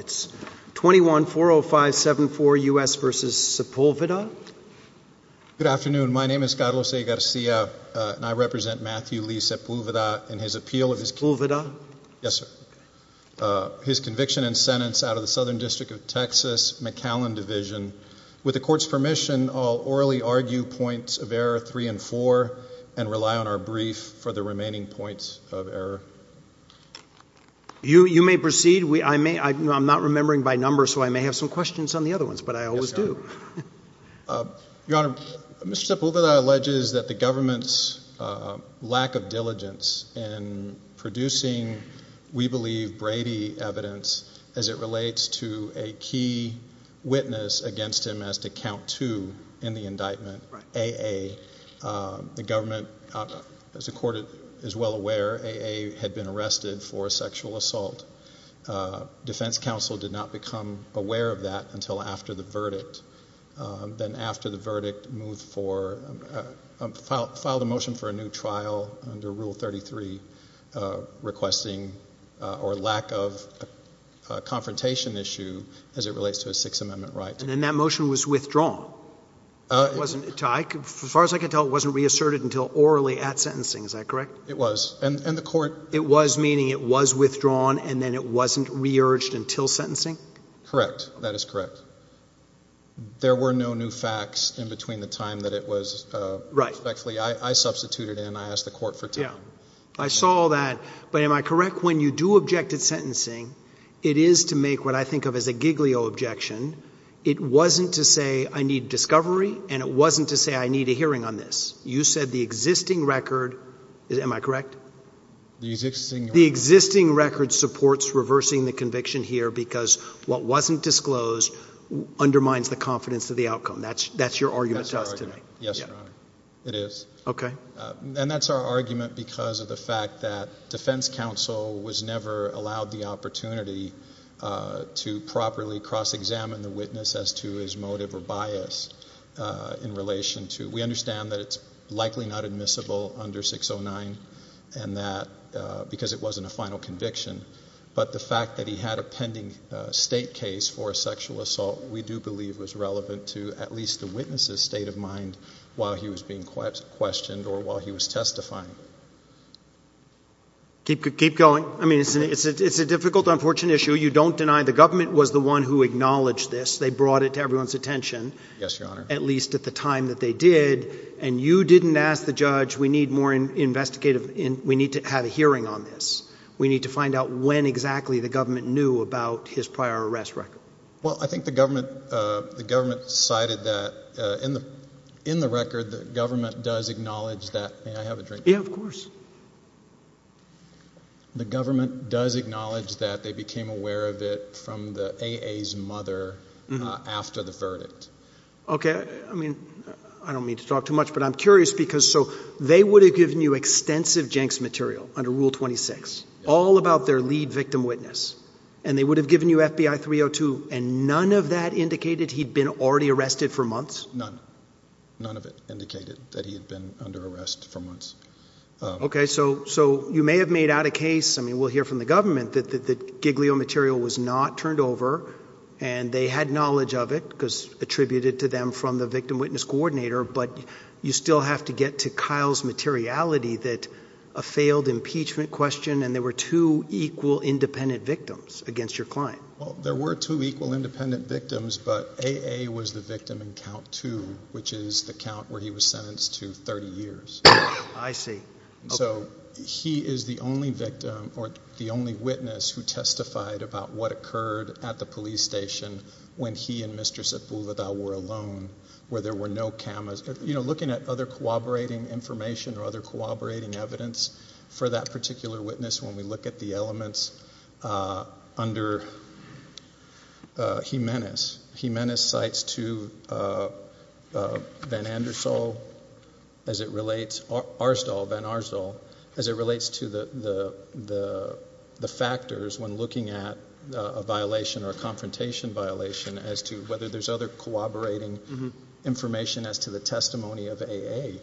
It's 21-405-74 U.S. v. Sepulveda Good afternoon, my name is Carlos A. Garcia and I represent Matthew Lee Sepulveda in his appeal of his conviction and sentence out of the Southern District of Texas McAllen Division. With the court's permission, I'll orally argue points of error 3 and 4 and rely on our brief for the remaining points of error. You may proceed. I may, I'm not remembering by number so I may have some questions on the other ones but I always do. Your Honor, Mr. Sepulveda alleges that the government's lack of diligence in producing, we believe, Brady evidence as it relates to a key witness against him as to count two in the indictment, A.A. The government, as the court is well aware, A.A. had been arrested for a sexual assault. Defense counsel did not become aware of that until after the verdict. Then after the verdict moved for, filed a motion for a new trial under Rule 33 requesting or lack of a confrontation issue as it relates to a Sixth Amendment right. And that motion was withdrawn? As far as I can tell it wasn't reasserted until orally at sentencing, is that correct? It was and the court. It was meaning it was withdrawn and then it wasn't re-urged until sentencing? Correct. That is correct. There were no new facts in between the time that it was, right, actually I substituted and I asked the court for time. Yeah, I saw that but am I correct when you do object at sentencing it is to make what I think of as a it wasn't to say I need discovery and it wasn't to say I need a hearing on this. You said the existing record, am I correct? The existing record supports reversing the conviction here because what wasn't disclosed undermines the confidence of the outcome. That's, that's your argument to us today. Yes, it is. Okay. And that's our argument because of the fact that defense counsel was never allowed the opportunity to properly cross-examine the witness as to his motive or bias in relation to, we understand that it's likely not admissible under 609 and that because it wasn't a final conviction but the fact that he had a pending state case for a sexual assault we do believe was relevant to at least the witness's state of mind while he was being It's a difficult, unfortunate issue. You don't deny the government was the one who acknowledged this. They brought it to everyone's attention. Yes, your honor. At least at the time that they did and you didn't ask the judge we need more investigative, we need to have a hearing on this. We need to find out when exactly the government knew about his prior arrest record. Well, I think the government, the government cited that in the, in the record the government does acknowledge that they became aware of it from the AA's mother after the verdict. Okay, I mean I don't mean to talk too much but I'm curious because so they would have given you extensive Jenks material under Rule 26 all about their lead victim witness and they would have given you FBI 302 and none of that indicated he'd been already arrested for months? None. None of it indicated that he had been under arrest for months. Okay, so, so you may have made out a case, I mean we'll hear from the government that the Giglio material was not turned over and they had knowledge of it because attributed to them from the victim witness coordinator but you still have to get to Kyle's materiality that a failed impeachment question and there were two equal independent victims against your client. Well, there were two equal independent victims but AA was the victim in count two which is the count where he was sentenced to 30 years. I see. So he is the only victim or the only witness who testified about what occurred at the police station when he and Mr. Sepulveda were alone where there were no cameras. You know looking at other cooperating information or other cooperating evidence for that particular witness when we look at the elements under Jimenez. Jimenez cites to Van Andersol as it relates, Arzdahl, Van Arzdahl, as it relates to the the the factors when looking at a violation or a confrontation violation as to whether there's other cooperating information as to the testimony of AA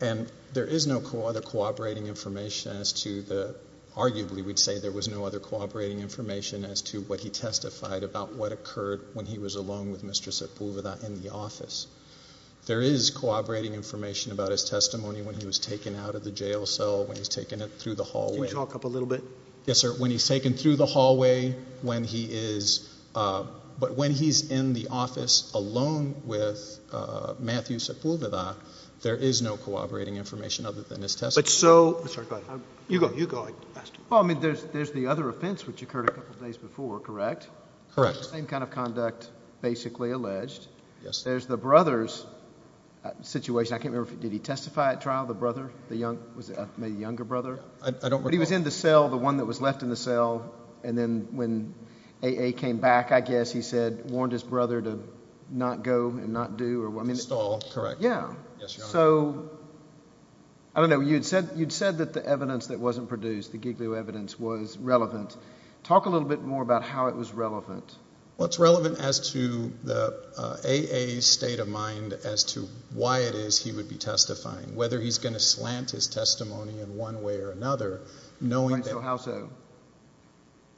and there is no other cooperating information as to the Arguably, we'd say there was no other cooperating information as to what he testified about what occurred when he was alone with Mr. Sepulveda in the office. There is cooperating information about his testimony when he was taken out of the jail cell, when he's taken it through the hallway. Can you talk up a little bit? Yes, sir. When he's taken through the hallway when he is but when he's in the office alone with Matthew Sepulveda there is no cooperating information other than his Well, I mean there's there's the other offense which occurred a couple days before, correct? Correct. The same kind of conduct basically alleged. Yes. There's the brother's situation. I can't remember, did he testify at trial, the brother, the young, was it a younger brother? I don't remember. But he was in the cell, the one that was left in the cell and then when AA came back I guess he said warned his brother to not go and not do or I mean. Stall, correct. Yeah. So I don't know you'd said that the evidence that wasn't produced, the Giglio evidence, was relevant. Talk a little bit more about how it was relevant. Well, it's relevant as to the AA's state of mind as to why it is he would be testifying, whether he's going to slant his testimony in one way or another, knowing. So how so?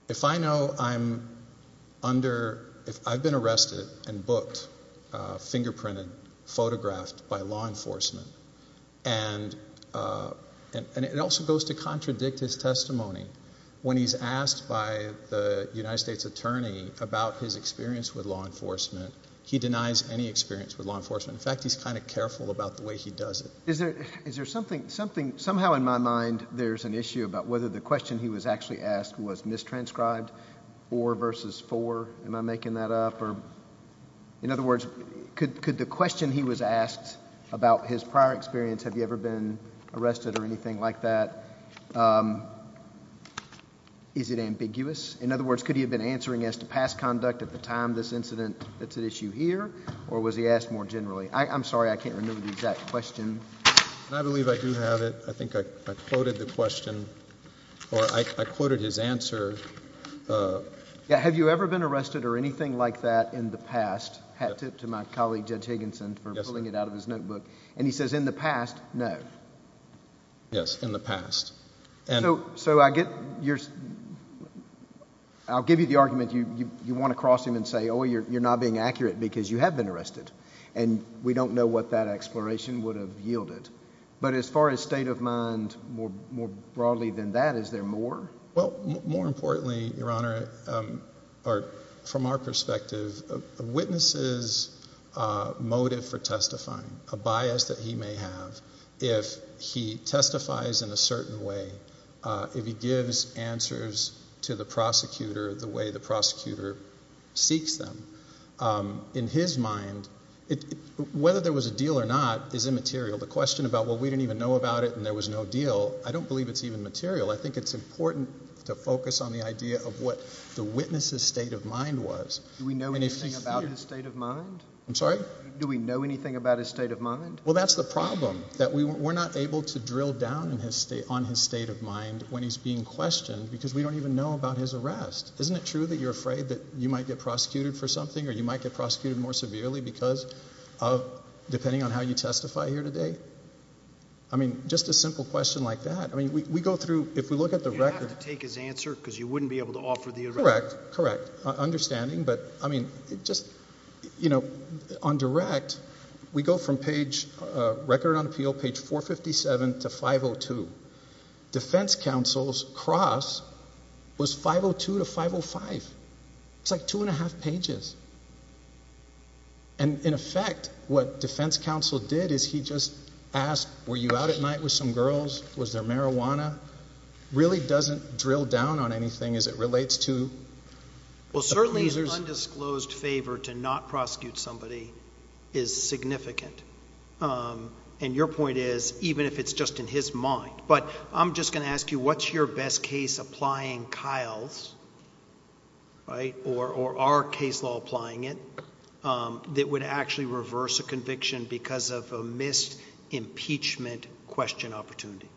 If I know I'm under, if I've been arrested and booked, fingerprinted, photographed by law enforcement. And it also goes to contradict his testimony. When he's asked by the United States Attorney about his experience with law enforcement, he denies any experience with law enforcement. In fact, he's kind of careful about the way he does it. Is there, is there something, something, somehow in my mind there's an issue about whether the question he was actually asked was mistranscribed or versus for, am I making that up? Or in other words, could the question he was asked about his prior experience, have you ever been arrested or anything like that? Um, is it ambiguous? In other words, could he have been answering as to past conduct at the time this incident that's at issue here? Or was he asked more generally? I'm sorry, I can't remember the exact question. I believe I do have it. I think I quoted the question or I quoted his answer. Uh, have you ever been arrested or anything like that in the past? Hat tip to my colleague, Judge Higginson, for pulling it out of his notebook. And he says in the past, no. Yes, in the past. And so, so I get your, I'll give you the argument you, you want to cross him and say, oh, you're, you're not being accurate because you have been arrested. And we don't know what that exploration would have yielded. But as far as state of mind, more, more broadly than that, is there more? Well, more importantly, Your Honor, um, or from our perspective, witnesses, uh, motive for testifying, a bias that he may have if he testifies in a certain way. Uh, if he gives answers to the prosecutor the way the prosecutor seeks them, um, in his mind, whether there was a deal or not is immaterial. The question about what we didn't even know about it and there was no deal. I don't believe it's even material. I think it's important to focus on the idea of what the witness's state of mind was. Do we know anything about his state of mind? I'm sorry. Do we know anything about his state of mind? Well, that's the problem that we were not able to drill down in his state on his state of mind when he's being questioned because we don't even know about his arrest. Isn't it true that you're afraid that you might get prosecuted for something or you might get prosecuted more severely because of depending on how you go through. If we look at the record, take his answer because you wouldn't be able to offer the correct, correct understanding. But I mean, just, you know, on direct, we go from page record on appeal, page 4 57 to 502. Defense counsel's cross was 502 to 505. It's like 2.5 pages. And in effect, what defense counsel did is he just asked, Were you out at night with some girls? Was there marijuana? Really doesn't drill down on anything as it relates to. Well, certainly undisclosed favor to not prosecute somebody is significant. Um, and your point is, even if it's just in his mind, but I'm just gonna ask you, what's your best case applying Kyle's right or or our case law applying it? Um, that would actually reverse a question. Opportunity,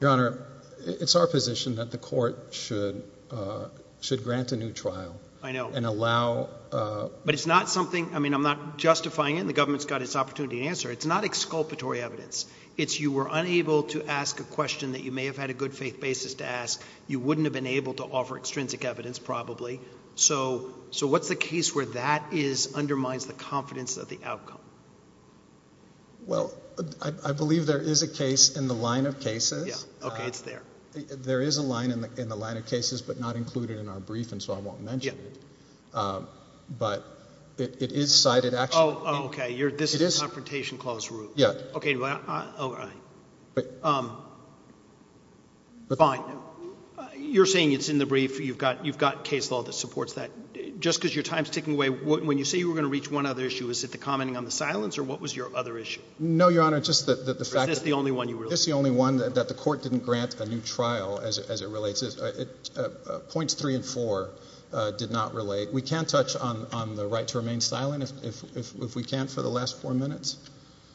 Your Honor. It's our position that the court should should grant a new trial. I know and allow. But it's not something I mean, I'm not justifying it. The government's got its opportunity to answer. It's not exculpatory evidence. It's you were unable to ask a question that you may have had a good faith basis to ask. You wouldn't have been able to offer extrinsic evidence, probably so. So what's the case where that is undermines the confidence of the outcome? Well, I believe there is a case in the line of cases. Okay, it's there. There is a line in the line of cases, but not included in our brief. And so I won't mention it. Um, but it is cited. Oh, okay. You're This is a confrontation clause. Yeah. Okay. All right. Um, fine. You're saying it's in the brief. You've got You've got case law that supports that just because your time's ticking away. When you say you were gonna reach one other issue, is that the commenting on the silence? Or what was your other issue? No, Your Honor. Just that the fact is the only one you were just the only one that the court didn't grant a new trial as it relates. It points three and four did not relate. We can't touch on the right to remain silent if we can't for the last four minutes.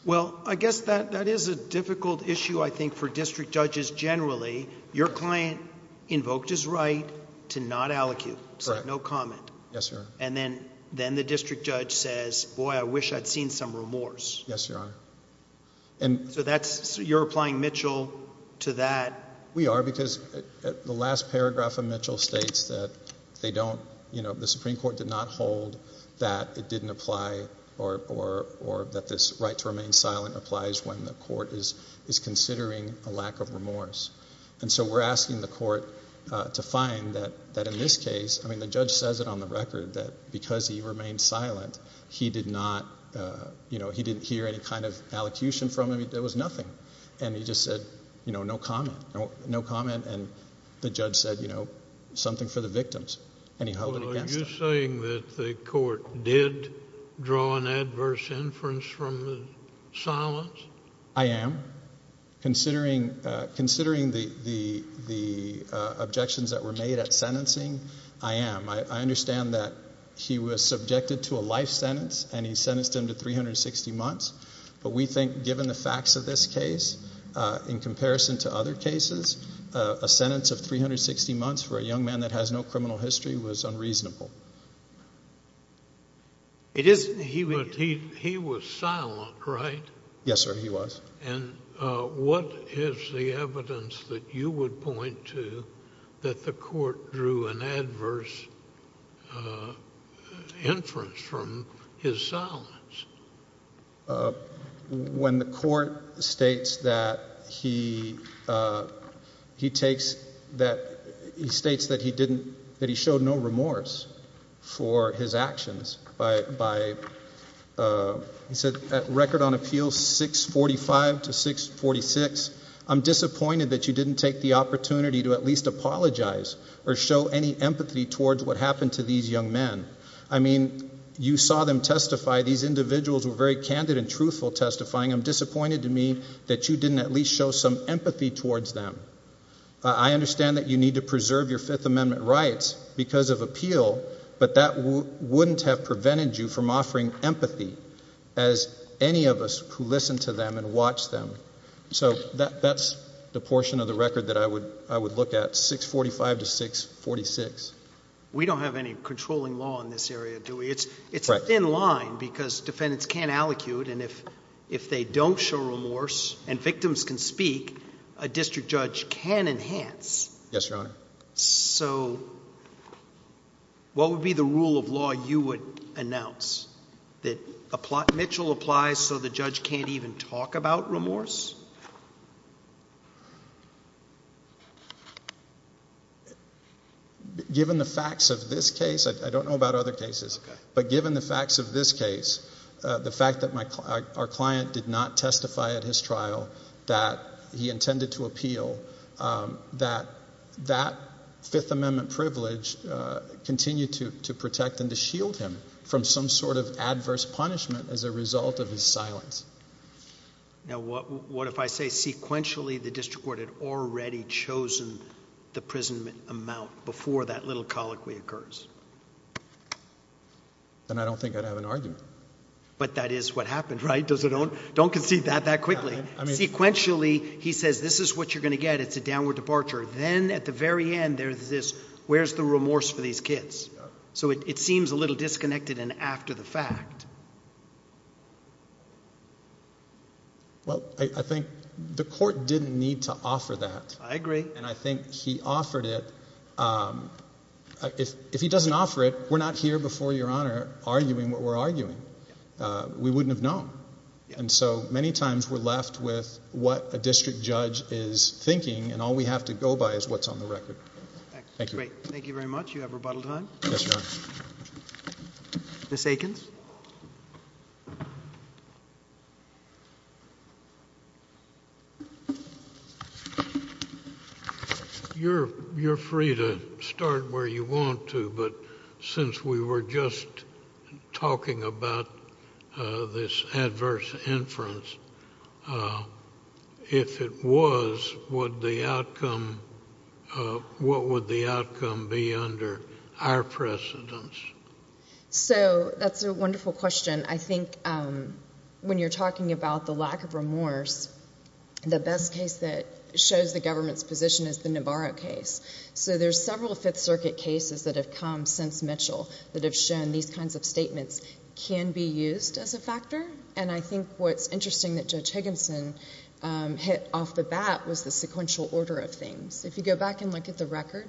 Well, I guess that that is a difficult issue, I think, for district judges. Generally, your client invoked his right to not allocate. No comment. Yes, sir. And then the district judge says, Boy, I wish I'd seen some remorse. Yes, you are. And so that's you're applying Mitchell to that. We are. Because the last paragraph of Mitchell states that they don't. You know, the Supreme Court did not hold that it didn't apply or or or that this right to remain silent applies when the court is is considering a lack of remorse. And so we're asking the court to find that that in this case, I mean, the judge says it on the record that because he remained silent, he did not. You know, he didn't hear any kind of allocution from him. There was nothing. And he just said, you know, no comment, no comment. And the judge said, you know, something for the victims. Anyhow, you're saying that the court did draw an adverse inference from silence. I am considering considering the the objections that were made at sentencing. I am. I understand that he was subjected to a life sentence, and he sentenced him to 360 months. But we think, given the facts of this case, in comparison to other cases, a sentence of 360 months for a young man that has no criminal history was unreasonable. It isn't he. He was silent, right? Yes, sir. He was. And what is the evidence that you would point to that the court drew an adverse inference from his silence when the court states that he he takes that he states that he didn't that he showed no remorse for his actions by by, uh, he said record on Appeals 6 45 to 6 46. I'm disappointed that you didn't take the opportunity to at least apologize or show any empathy towards what happened to these young men. I mean, you saw them testify. These individuals were very candid and truthful, testifying. I'm disappointed to me that you didn't at least show some empathy towards them. I understand that you need to preserve your Fifth Amendment rights because of appeal, but that wouldn't have prevented you from watch them. So that's the portion of the record that I would I would look at 6 45 to 6 46. We don't have any controlling law in this area, do we? It's it's in line because defendants can't allocute. And if if they don't show remorse and victims can speak, a district judge can enhance. Yes, Your Honor. So what would be the rule of law? You would announce that a plot Mitchell applies so the judge can't even talk about remorse. Given the facts of this case, I don't know about other cases, but given the facts of this case, the fact that our client did not testify at his trial that he intended to appeal, um, that that Fifth Amendment privilege continued to protect and to shield him from some sort of adverse punishment as a result of his silence. Now, what if I say sequentially the district court had already chosen the prison amount before that little colloquy occurs? And I don't think I'd have an argument. But that is what happened, right? Does it? Don't don't conceive that that quickly. I mean, sequentially, he says this is what you're gonna get. It's a downward departure. Then at the very end, there's this. Where's the remorse for these kids? So it seems a little disconnected. And after the fact, yeah. Well, I think the court didn't need to offer that. I agree. And I think he offered it. Um, if if he doesn't offer it, we're not here before your honor arguing what we're arguing. We wouldn't have known. And so many times we're left with what a district judge is thinking. And all we have to go by is what's on the record. Thank you. Great. Thank you very much. You have rebuttal time. Yes, ma'am. Miss Aikens. You're you're free to start where you want to. But since we were just talking about this adverse inference, uh, if it was what the outcome, uh, what would the outcome be under our precedence? So that's a wonderful question. I think, um, when you're talking about the lack of remorse, the best case that shows the government's position is the Navarro case. So there's several Fifth Circuit cases that have come since Mitchell that have shown these kinds of statements can be used as a factor. And I think what's interesting that Judge Higginson, um, hit off the bat was the sequential order of things. If you go back and look at the record,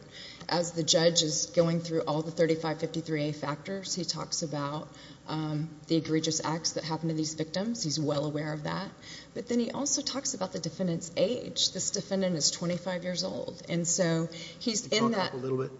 as the judge is going through all the 3553A factors, he talks about, um, the egregious acts that happened to these victims. He's well aware of that. But then he also talks about the defendant's age. This defendant is 25 years old. And so he's in that a little bit.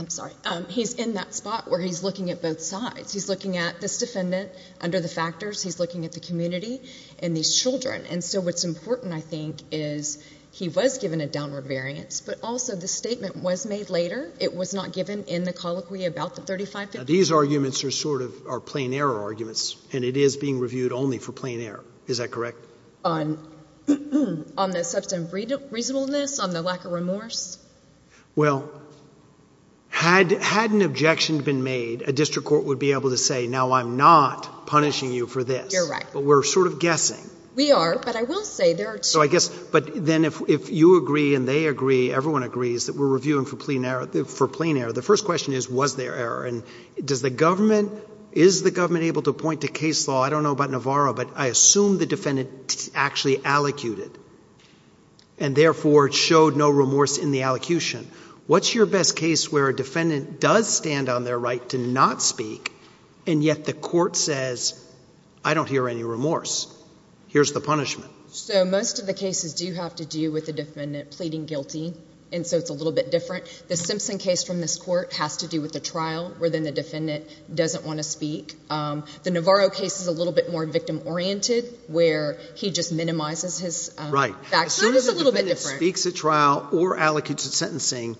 I'm sorry. He's in that spot where he's looking at both sides. He's looking at this defendant under the factors. He's looking at the community and these Children. And so what's important, I think, is he was given a downward variance. But also the statement was made later. It was not given in the colloquy about the 35. These arguments are sort of are plain error arguments, and it is being reviewed only for plain error. Is that correct? On on the substantive reasonableness on the lack of remorse? Well, had had an objection been made, a district court would be able to say, Now I'm not punishing you for this. You're right. But we're sort of guessing we are. But I will say there. So I guess. But then, if you agree and they agree, everyone agrees that we're reviewing for clean air for plain air. The first question is, was there error? And does the government is the government able to point to case law? I don't know about Navarro, but I assume the defendant actually allocated and therefore showed no remorse in the allocution. What's your best case where a defendant does stand on their right to not speak? And yet the court says, I don't hear any remorse. Here's the punishment. So most of the cases do have to do with the defendant pleading guilty. And so it's a little bit different. The Simpson case from this court has to do with the trial within the defendant doesn't want to speak. Um, the Navarro case is a little bit more victim oriented, where he just minimizes his right back. It's a little bit different. Speaks a trial or allocated sentencing.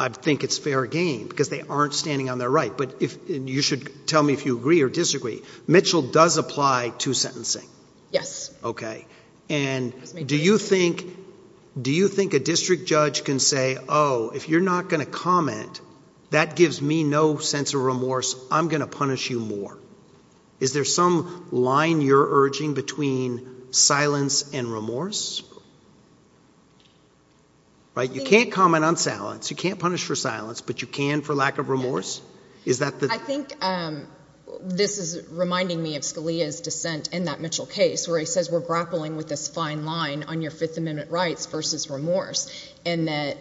I think it's fair game because they aren't standing on their right. But if you should tell me if you agree or disagree, Mitchell does apply to sentencing. Yes. Okay. And do you think, do you think a district judge can say, Oh, if you're not going to comment, that gives me no sense of remorse. I'm going to punish you more. Is there some line you're urging between silence and remorse? Right. You can't comment on silence. You can't punish for silence, but you can for lack of remorse. Is that I think this is reminding me of Scalia's dissent in that Mitchell case where he says we're grappling with this fine line on your Fifth Amendment rights versus remorse and that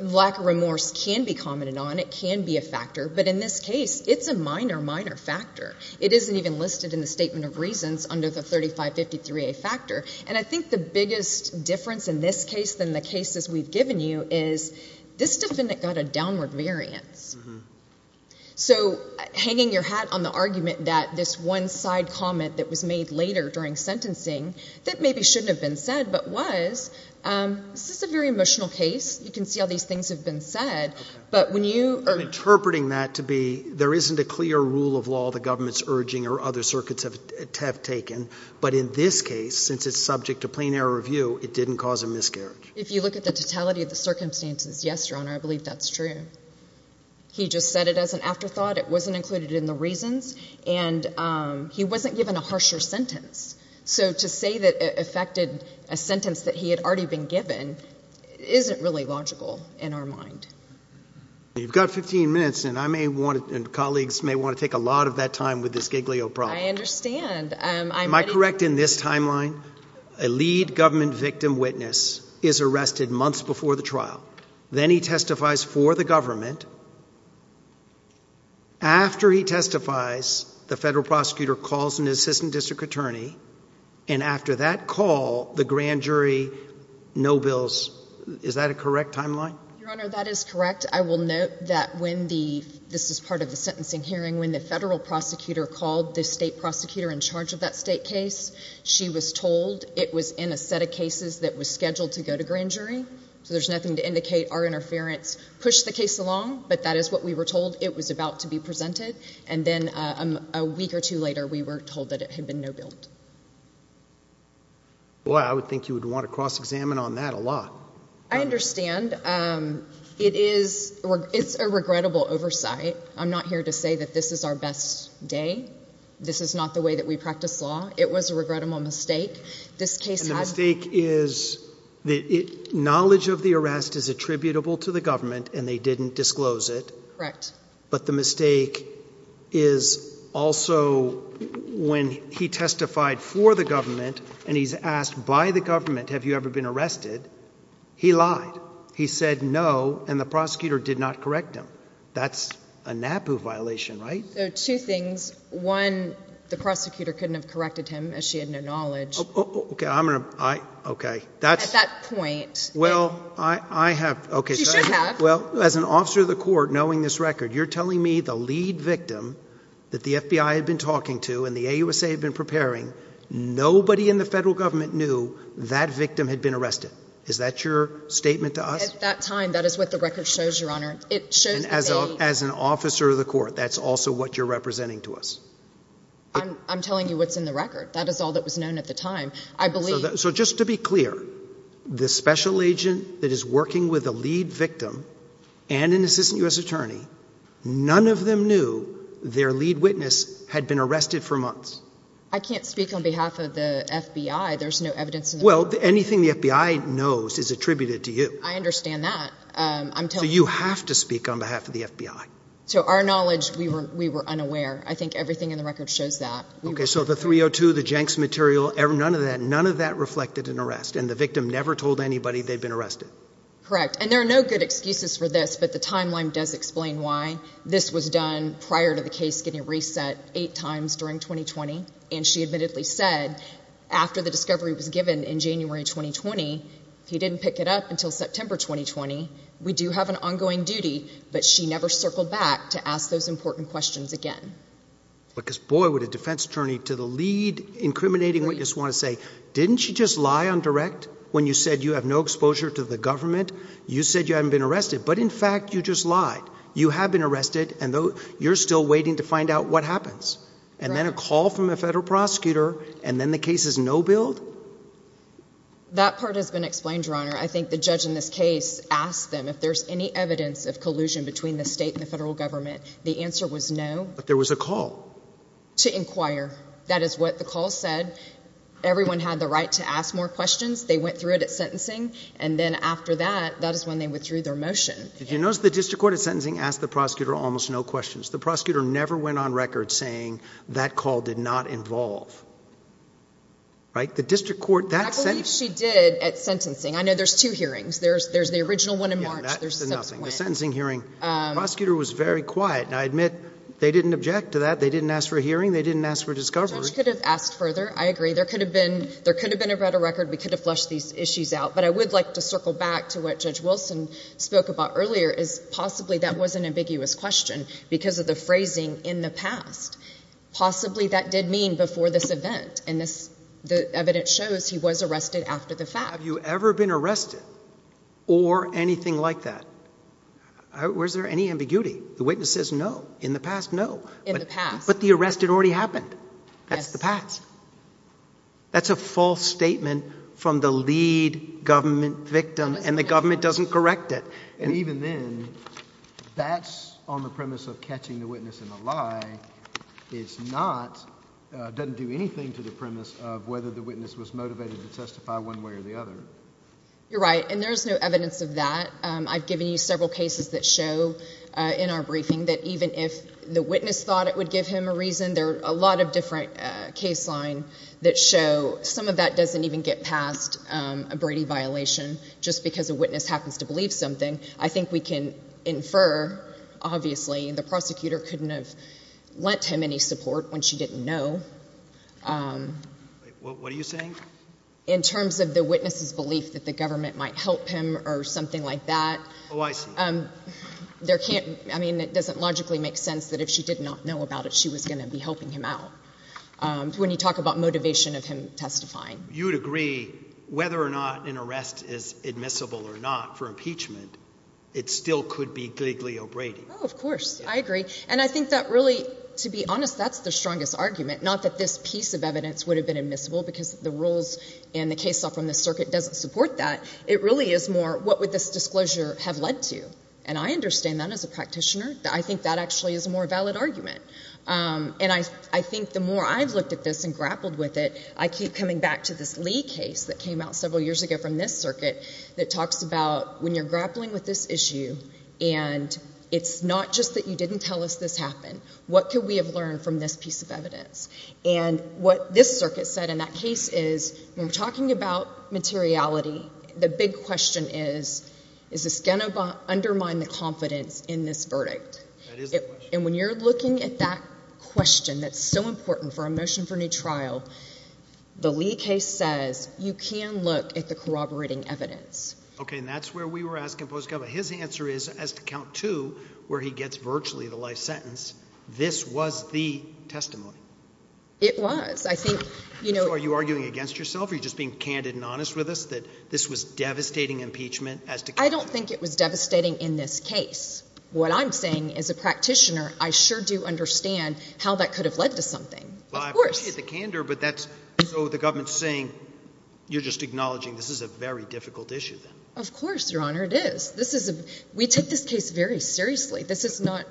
lack of remorse can be commented on. It can be a factor. But in this case, it's a minor, minor factor. It isn't even listed in the statement of reasons under the 35 53 a factor. And I think the biggest difference in this case than the cases we've given you is this defendant got a downward variance. So hanging your hat on the argument that this one side comment that was made later during sentencing that maybe shouldn't have been said, but was, um, this is a very emotional case. You can see all these things have been said, but when you are interpreting that to be, there isn't a clear rule of law, the government's urging or other circuits have taken. But in this case, since it's subject to totality of the circumstances. Yes, Your Honor, I believe that's true. He just said it as an afterthought. It wasn't included in the reasons, and he wasn't given a harsher sentence. So to say that affected a sentence that he had already been given isn't really logical in our mind. You've got 15 minutes, and I may want and colleagues may want to take a lot of that time with this giglio problem. I understand. Am I correct? In this timeline, a lead government victim witness is arrested months before the trial. Then he testifies for the government. After he testifies, the federal prosecutor calls an assistant district attorney. And after that call, the grand jury no bills. Is that a correct timeline? Your Honor, that is correct. I will note that when the this is part of the sentencing hearing, when the federal prosecutor called the state prosecutor in charge of that state case, she was told it was in a set of cases that was scheduled to go to grand jury. So there's nothing to indicate our interference. Push the case along. But that is what we were told. It was about to be presented. And then a week or two later, we were told that it had been no built. Well, I would think you would want to cross examine on that a lot. I understand. Um, it is. It's a regrettable oversight. I'm not here to the way that we practice law. It was a regrettable mistake. This case has fake is the knowledge of the arrest is attributable to the government, and they didn't disclose it. Correct. But the mistake is also when he testified for the government, and he's asked by the government, Have you ever been arrested? He lied. He said no, and the prosecutor did not correct him. That's a NAPU violation, right? Two things. One, the prosecutor couldn't have corrected him as she had no knowledge. Okay, I'm gonna I Okay, that's that point. Well, I have. Okay, well, as an officer of the court, knowing this record, you're telling me the lead victim that the FBI had been talking to in the USA had been preparing. Nobody in the federal government knew that victim had been arrested. Is that your statement to us at that time? That is what the record shows your honor. It shows as an officer of the court. That's also what you're representing to us. I'm telling you what's in the record. That is all that was known at the time, I believe. So just to be clear, the special agent that is working with the lead victim and an assistant U. S. Attorney, none of them knew their lead witness had been arrested for months. I can't speak on behalf of the FBI. There's no evidence. Well, anything the FBI knows is attributed to you. I understand that. Um, you have to speak on behalf of the FBI. So our knowledge we were we were unaware. I think everything in the record shows that. Okay, so the 302 the Jenks material, none of that, none of that reflected an arrest and the victim never told anybody they've been arrested. Correct. And there are no good excuses for this. But the timeline does explain why this was done prior to the case getting reset eight times during 2020. And she admittedly said after the discovery was given in January 2020, he didn't pick it up until September 2020. We do have an ongoing duty, but she never circled back to ask those important questions again. Because boy, would a defense attorney to the lead incriminating what you just want to say. Didn't you just lie on direct when you said you have no exposure to the government? You said you haven't been arrested, but in fact, you just lied. You have been arrested and you're still waiting to find out what happens. And then a call from a case is no build. That part has been explained, Your Honor. I think the judge in this case asked them if there's any evidence of collusion between the state and the federal government. The answer was no, but there was a call to inquire. That is what the call said. Everyone had the right to ask more questions. They went through it at sentencing, and then after that, that is when they withdrew their motion. Did you notice the district court of sentencing asked the prosecutor almost no questions. The prosecutor never went on record saying that call did not involve right. The district court that she did at sentencing. I know there's two hearings. There's there's the original one in March. There's nothing. Sentencing hearing. Prosecutor was very quiet, and I admit they didn't object to that. They didn't ask for a hearing. They didn't ask for discovery. Could have asked further. I agree there could have been. There could have been a better record. We could have flushed these issues out. But I would like to circle back to what Judge Wilson spoke about earlier is possibly that was an ambiguous question because of the phrasing in the past. Possibly that did mean before this event in this. The evidence shows he was arrested after the fact. Have you ever been arrested or anything like that? Where's there any ambiguity? The witnesses? No. In the past? No. In the past. But the arrested already happened. That's the past. That's a false statement from the lead government victim, and the government doesn't correct it. And even then, that's on the premise of catching the lie. It's not doesn't do anything to the premise of whether the witness was motivated to testify one way or the other. You're right, and there's no evidence of that. I've given you several cases that show in our briefing that even if the witness thought it would give him a reason, there are a lot of different case line that show some of that doesn't even get past a Brady violation just because a witness happens to believe something. I think we can infer. Obviously, the prosecutor couldn't have lent him any support when she didn't know. What are you saying in terms of the witnesses belief that the government might help him or something like that? Oh, I see. Um, there can't. I mean, it doesn't logically make sense that if she did not know about it, she was going to be helping him out. Um, when you talk about motivation of him testifying, you would agree whether or not an arrest is admissible or not for it still could be legally a Brady. Oh, of course. I agree. And I think that really, to be honest, that's the strongest argument, not that this piece of evidence would have been admissible because the rules and the case from the circuit doesn't support that. It really is more what would this disclosure have led to? And I understand that as a practitioner. I think that actually is a more valid argument. Um, and I I think the more I've looked at this and grappled with it, I keep coming back to this Lee case that came out several years ago from this circuit that talks about when you're grappling with this issue, and it's not just that you didn't tell us this happened. What could we have learned from this piece of evidence? And what this circuit said in that case is we're talking about materiality. The big question is, is this going to undermine the confidence in this verdict? And when you're looking at that question, that's so important for a motion for new trial. The Lee case says you can look at the corroborating evidence. Okay, and that's where we were asking. Post cover. His answer is as to count to where he gets virtually the life sentence. This was the testimony. It was. I think you know, are you arguing against yourself? You're just being candid and honest with us that this was devastating impeachment as to. I don't think it was devastating. In this case, what I'm saying is a practitioner. I sure do understand how that could have led to something. I appreciate the candor, but that's so the government saying you're just acknowledging this is a very difficult issue. Then, of course, Your Honor, it is. This is a we take this case very seriously. This is not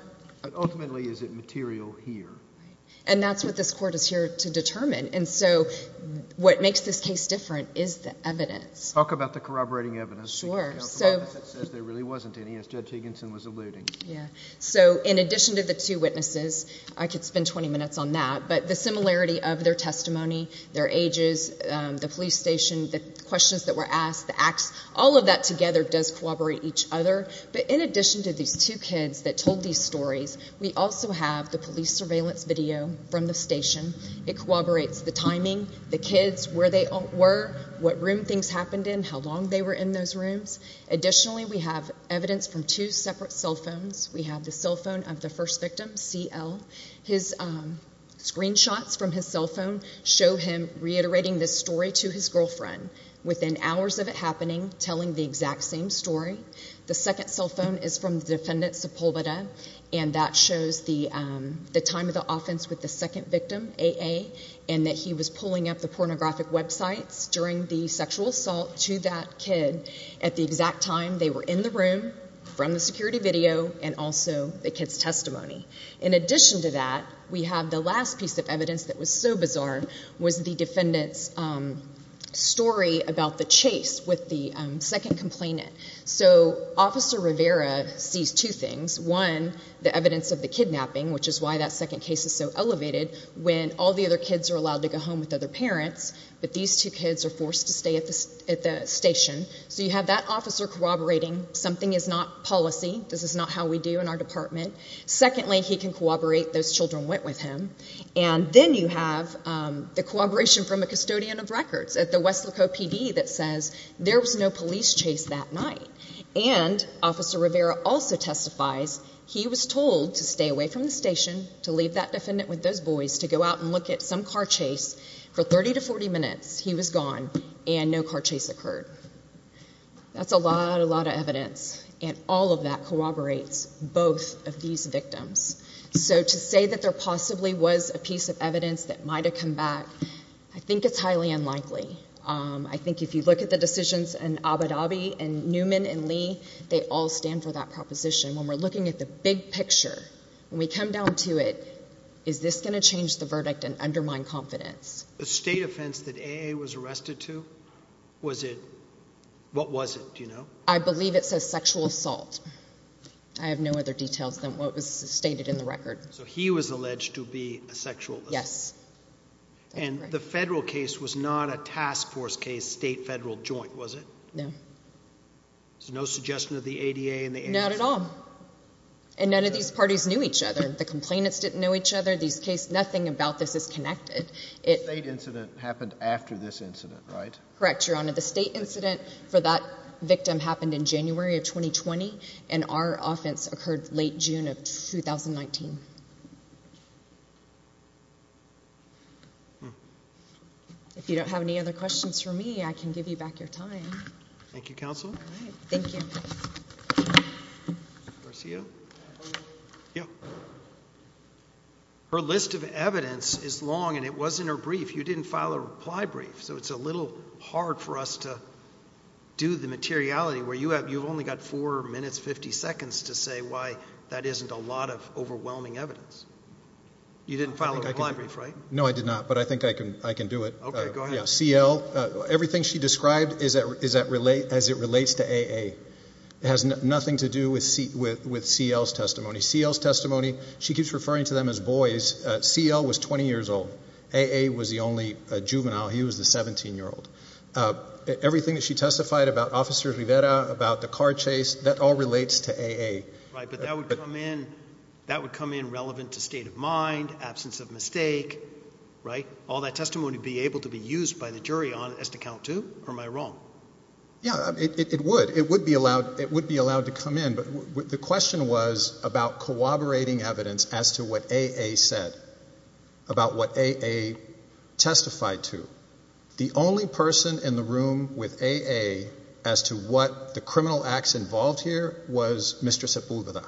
ultimately is it material here, and that's what this court is here to determine. And so what makes this case different is the evidence. Talk about the corroborating evidence. Sure. So there really wasn't any instead. Jigginson was eluding. Yeah. So in addition to the two witnesses, I could spend 20 minutes on that. But the similarity of their testimony, their ages, the police station, the questions that were asked the acts all of that together does corroborate each other. But in addition to these two kids that told these stories, we also have the police surveillance video from the station. It corroborates the timing. The kids where they were, what room things happened in, how long they were in those rooms. Additionally, we have evidence from two separate cell phones. We have the cell phone of the first victim, CL. His screen shots from his cell phone show him reiterating this story to his girlfriend. Within hours of it happening, telling the exact same story. The second cell phone is from the defendant, Sepulveda, and that shows the time of the offense with the second victim, AA, and that he was pulling up the pornographic websites during the sexual assault to that kid at the exact time they were in the room from the kid's testimony. In addition to that, we have the last piece of evidence that was so bizarre was the defendant's story about the chase with the second complainant. So Officer Rivera sees two things. One, the evidence of the kidnapping, which is why that second case is so elevated, when all the other kids are allowed to go home with other parents, but these two kids are forced to stay at the station. So you have that officer corroborating something is not policy, this is not how we do in our department. Secondly, he can corroborate those children went with him. And then you have the corroboration from a custodian of records at the West Lico PD that says there was no police chase that night. And Officer Rivera also testifies he was told to stay away from the station, to leave that defendant with those boys, to go out and look at some car chase. For 30 to 40 minutes, he was gone and no car chase occurred. That's a lot, a lot of evidence and all of that corroborates both of these victims. So to say that there possibly was a piece of evidence that might have come back, I think it's highly unlikely. I think if you look at the decisions and Abu Dhabi and Newman and Lee, they all stand for that proposition. When we're looking at the big picture, when we come down to it, is this going to change the verdict and undermine confidence? The state offense that A. A. Was arrested too. Was it? What was it? Do you know? I believe it says sexual assault. I have no other details than what was stated in the record. So he was alleged to be a sexual. Yes. And the federal case was not a task force case. State federal joint was it? No. There's no suggestion of the A. D. A. And not at all. And none of these parties knew each other. The complainants didn't know each other. These case. Nothing about this is connected. It incident happened after this incident, right? Correct. You're on the state incident for that victim happened in January of 2020. And our offense occurred late June of 2019. If you don't have any other questions for me, I can give you back your time. Thank you, Counsel. Thank you. Garcia. Yeah. Her list of evidence is long, and it wasn't her brief. You didn't file a reply brief. So it's a little hard for us to do the materiality where you have. You've only got four minutes, 50 seconds to say why that isn't a lot of overwhelming evidence. You didn't follow the library, right? No, I did not. But I think I can. I can do it. Go ahead. C. L. Everything she described is that is that relate as it relates to A. A. Has nothing to do with seat with C. L. S. Testimony seals testimony. She keeps referring to them as boys. C. L. was 20 years old. A. A. Was the only juvenile. He was the 17 year old. Everything that she testified about Officer Rivera about the car chase that all relates to A. A. Right. But that would come in. That would come in relevant to state of mind. Absence of mistake, right? All that testimony be able to be used by the jury on as to count to or my wrong. Yeah, it would. It would be allowed. It would be allowed to come in. But the question was about corroborating evidence as to what A. A. Said about what A. A. Testified to the only person in the room with A. A. As to what the criminal acts involved here was Mr Simple with that.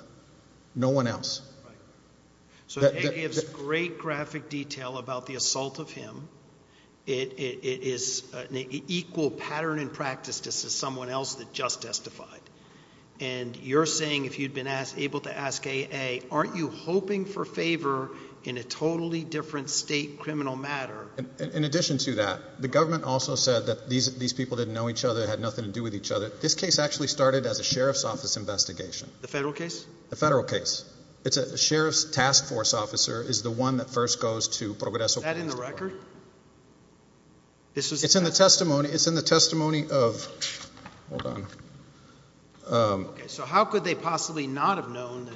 No one else. So it gives great graphic detail about the assault of him. It is equal pattern in practice. This is someone else that just testified and you're saying if you've been able to ask A. A. Aren't you hoping for favor in a totally different state criminal matter? In addition to that, the government also said that these these people didn't know each other had nothing to do with each other. This case actually started as a sheriff's office investigation. The federal case, the federal case. It's a sheriff's task force officer is the one that first goes to progress in the record. It's in the testimony. It's in the testimony of hold on. Um, so how could they possibly not have known?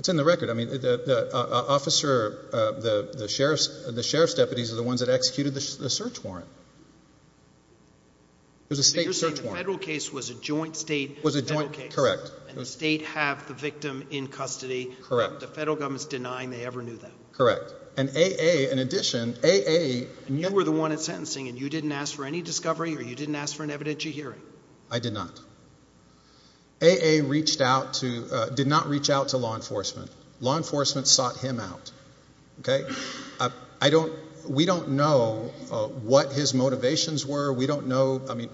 It's in the record. I mean, the officer, the sheriff's, the sheriff's deputies are the ones that executed the search warrant. It was a state search warrant. Federal case was a joint state was a joint case. Correct. And the state have the victim in custody. Correct. The federal government's denying they ever knew that correct. And A. A. In addition, A. A. You were the one in sentencing and you didn't ask for any discovery or you didn't ask for an evidentiary hearing. I did not. A. A. Reached out to did not reach out to law enforcement. Law enforcement sought him out. Okay, I don't. We don't know what his motivations were. We don't know. I mean,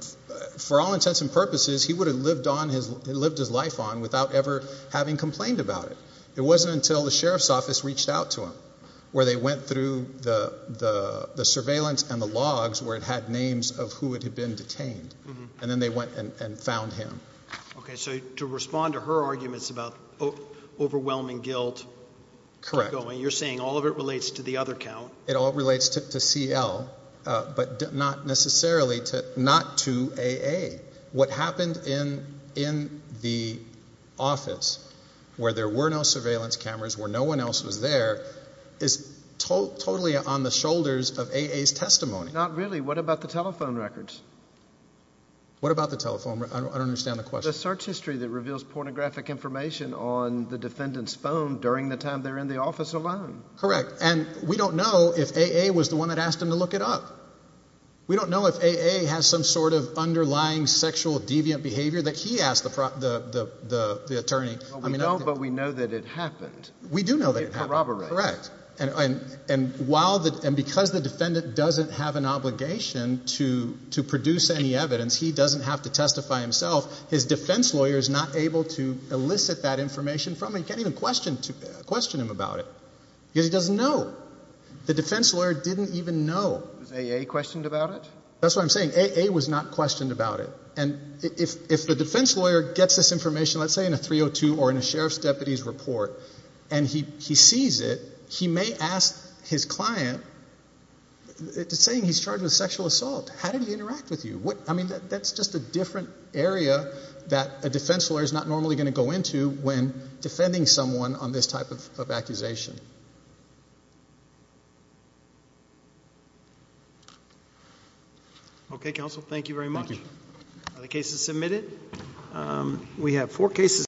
for all intents and purposes, he would have lived on his lived his life on without ever having complained about it. It wasn't until the sheriff's office reached out to him where they went through the surveillance and the logs where it had names of who would have been detained. And then they went and found him. Okay, so to respond to her arguments about overwhelming guilt. Correct. You're saying all of it relates to the other count. It all relates to C. L. But not necessarily to not to A. A. What happened in in the office where there were no surveillance cameras where no one else was there is totally on the shoulders of A. A. S. Testimony. Not really. What about the telephone records? What about the telephone? I don't understand the question. Search history that reveals pornographic information on the defendant's phone during the time they're in the office alone. Correct. And we don't know if A. A. Was the one that asked him to look it up. We don't know if A. A. Has some sort of underlying sexual deviant behavior that he asked the the the attorney. I mean, no, but we know that it happened. We do know that it corroborate. Correct. And and while that and because the defendant doesn't have an obligation to to produce any evidence, he doesn't have to testify himself. His defense lawyer is not able to elicit that information from him. Can't even question to question him about it because he doesn't know. The defense lawyer didn't even know A. A. Questioned about it. That's what I'm saying. A. A. Was not questioned about it. And if if the defense lawyer gets this information, let's say in a 302 or in a sheriff's deputy's report and he he sees it, he may ask his client saying he's charged with sexual assault. How did he interact with you? What? I mean, that's just a different area that a defense lawyer is not normally going to go into when defending someone on this type of issue. Okay, Counsel. Thank you very much. The case is submitted. We have four cases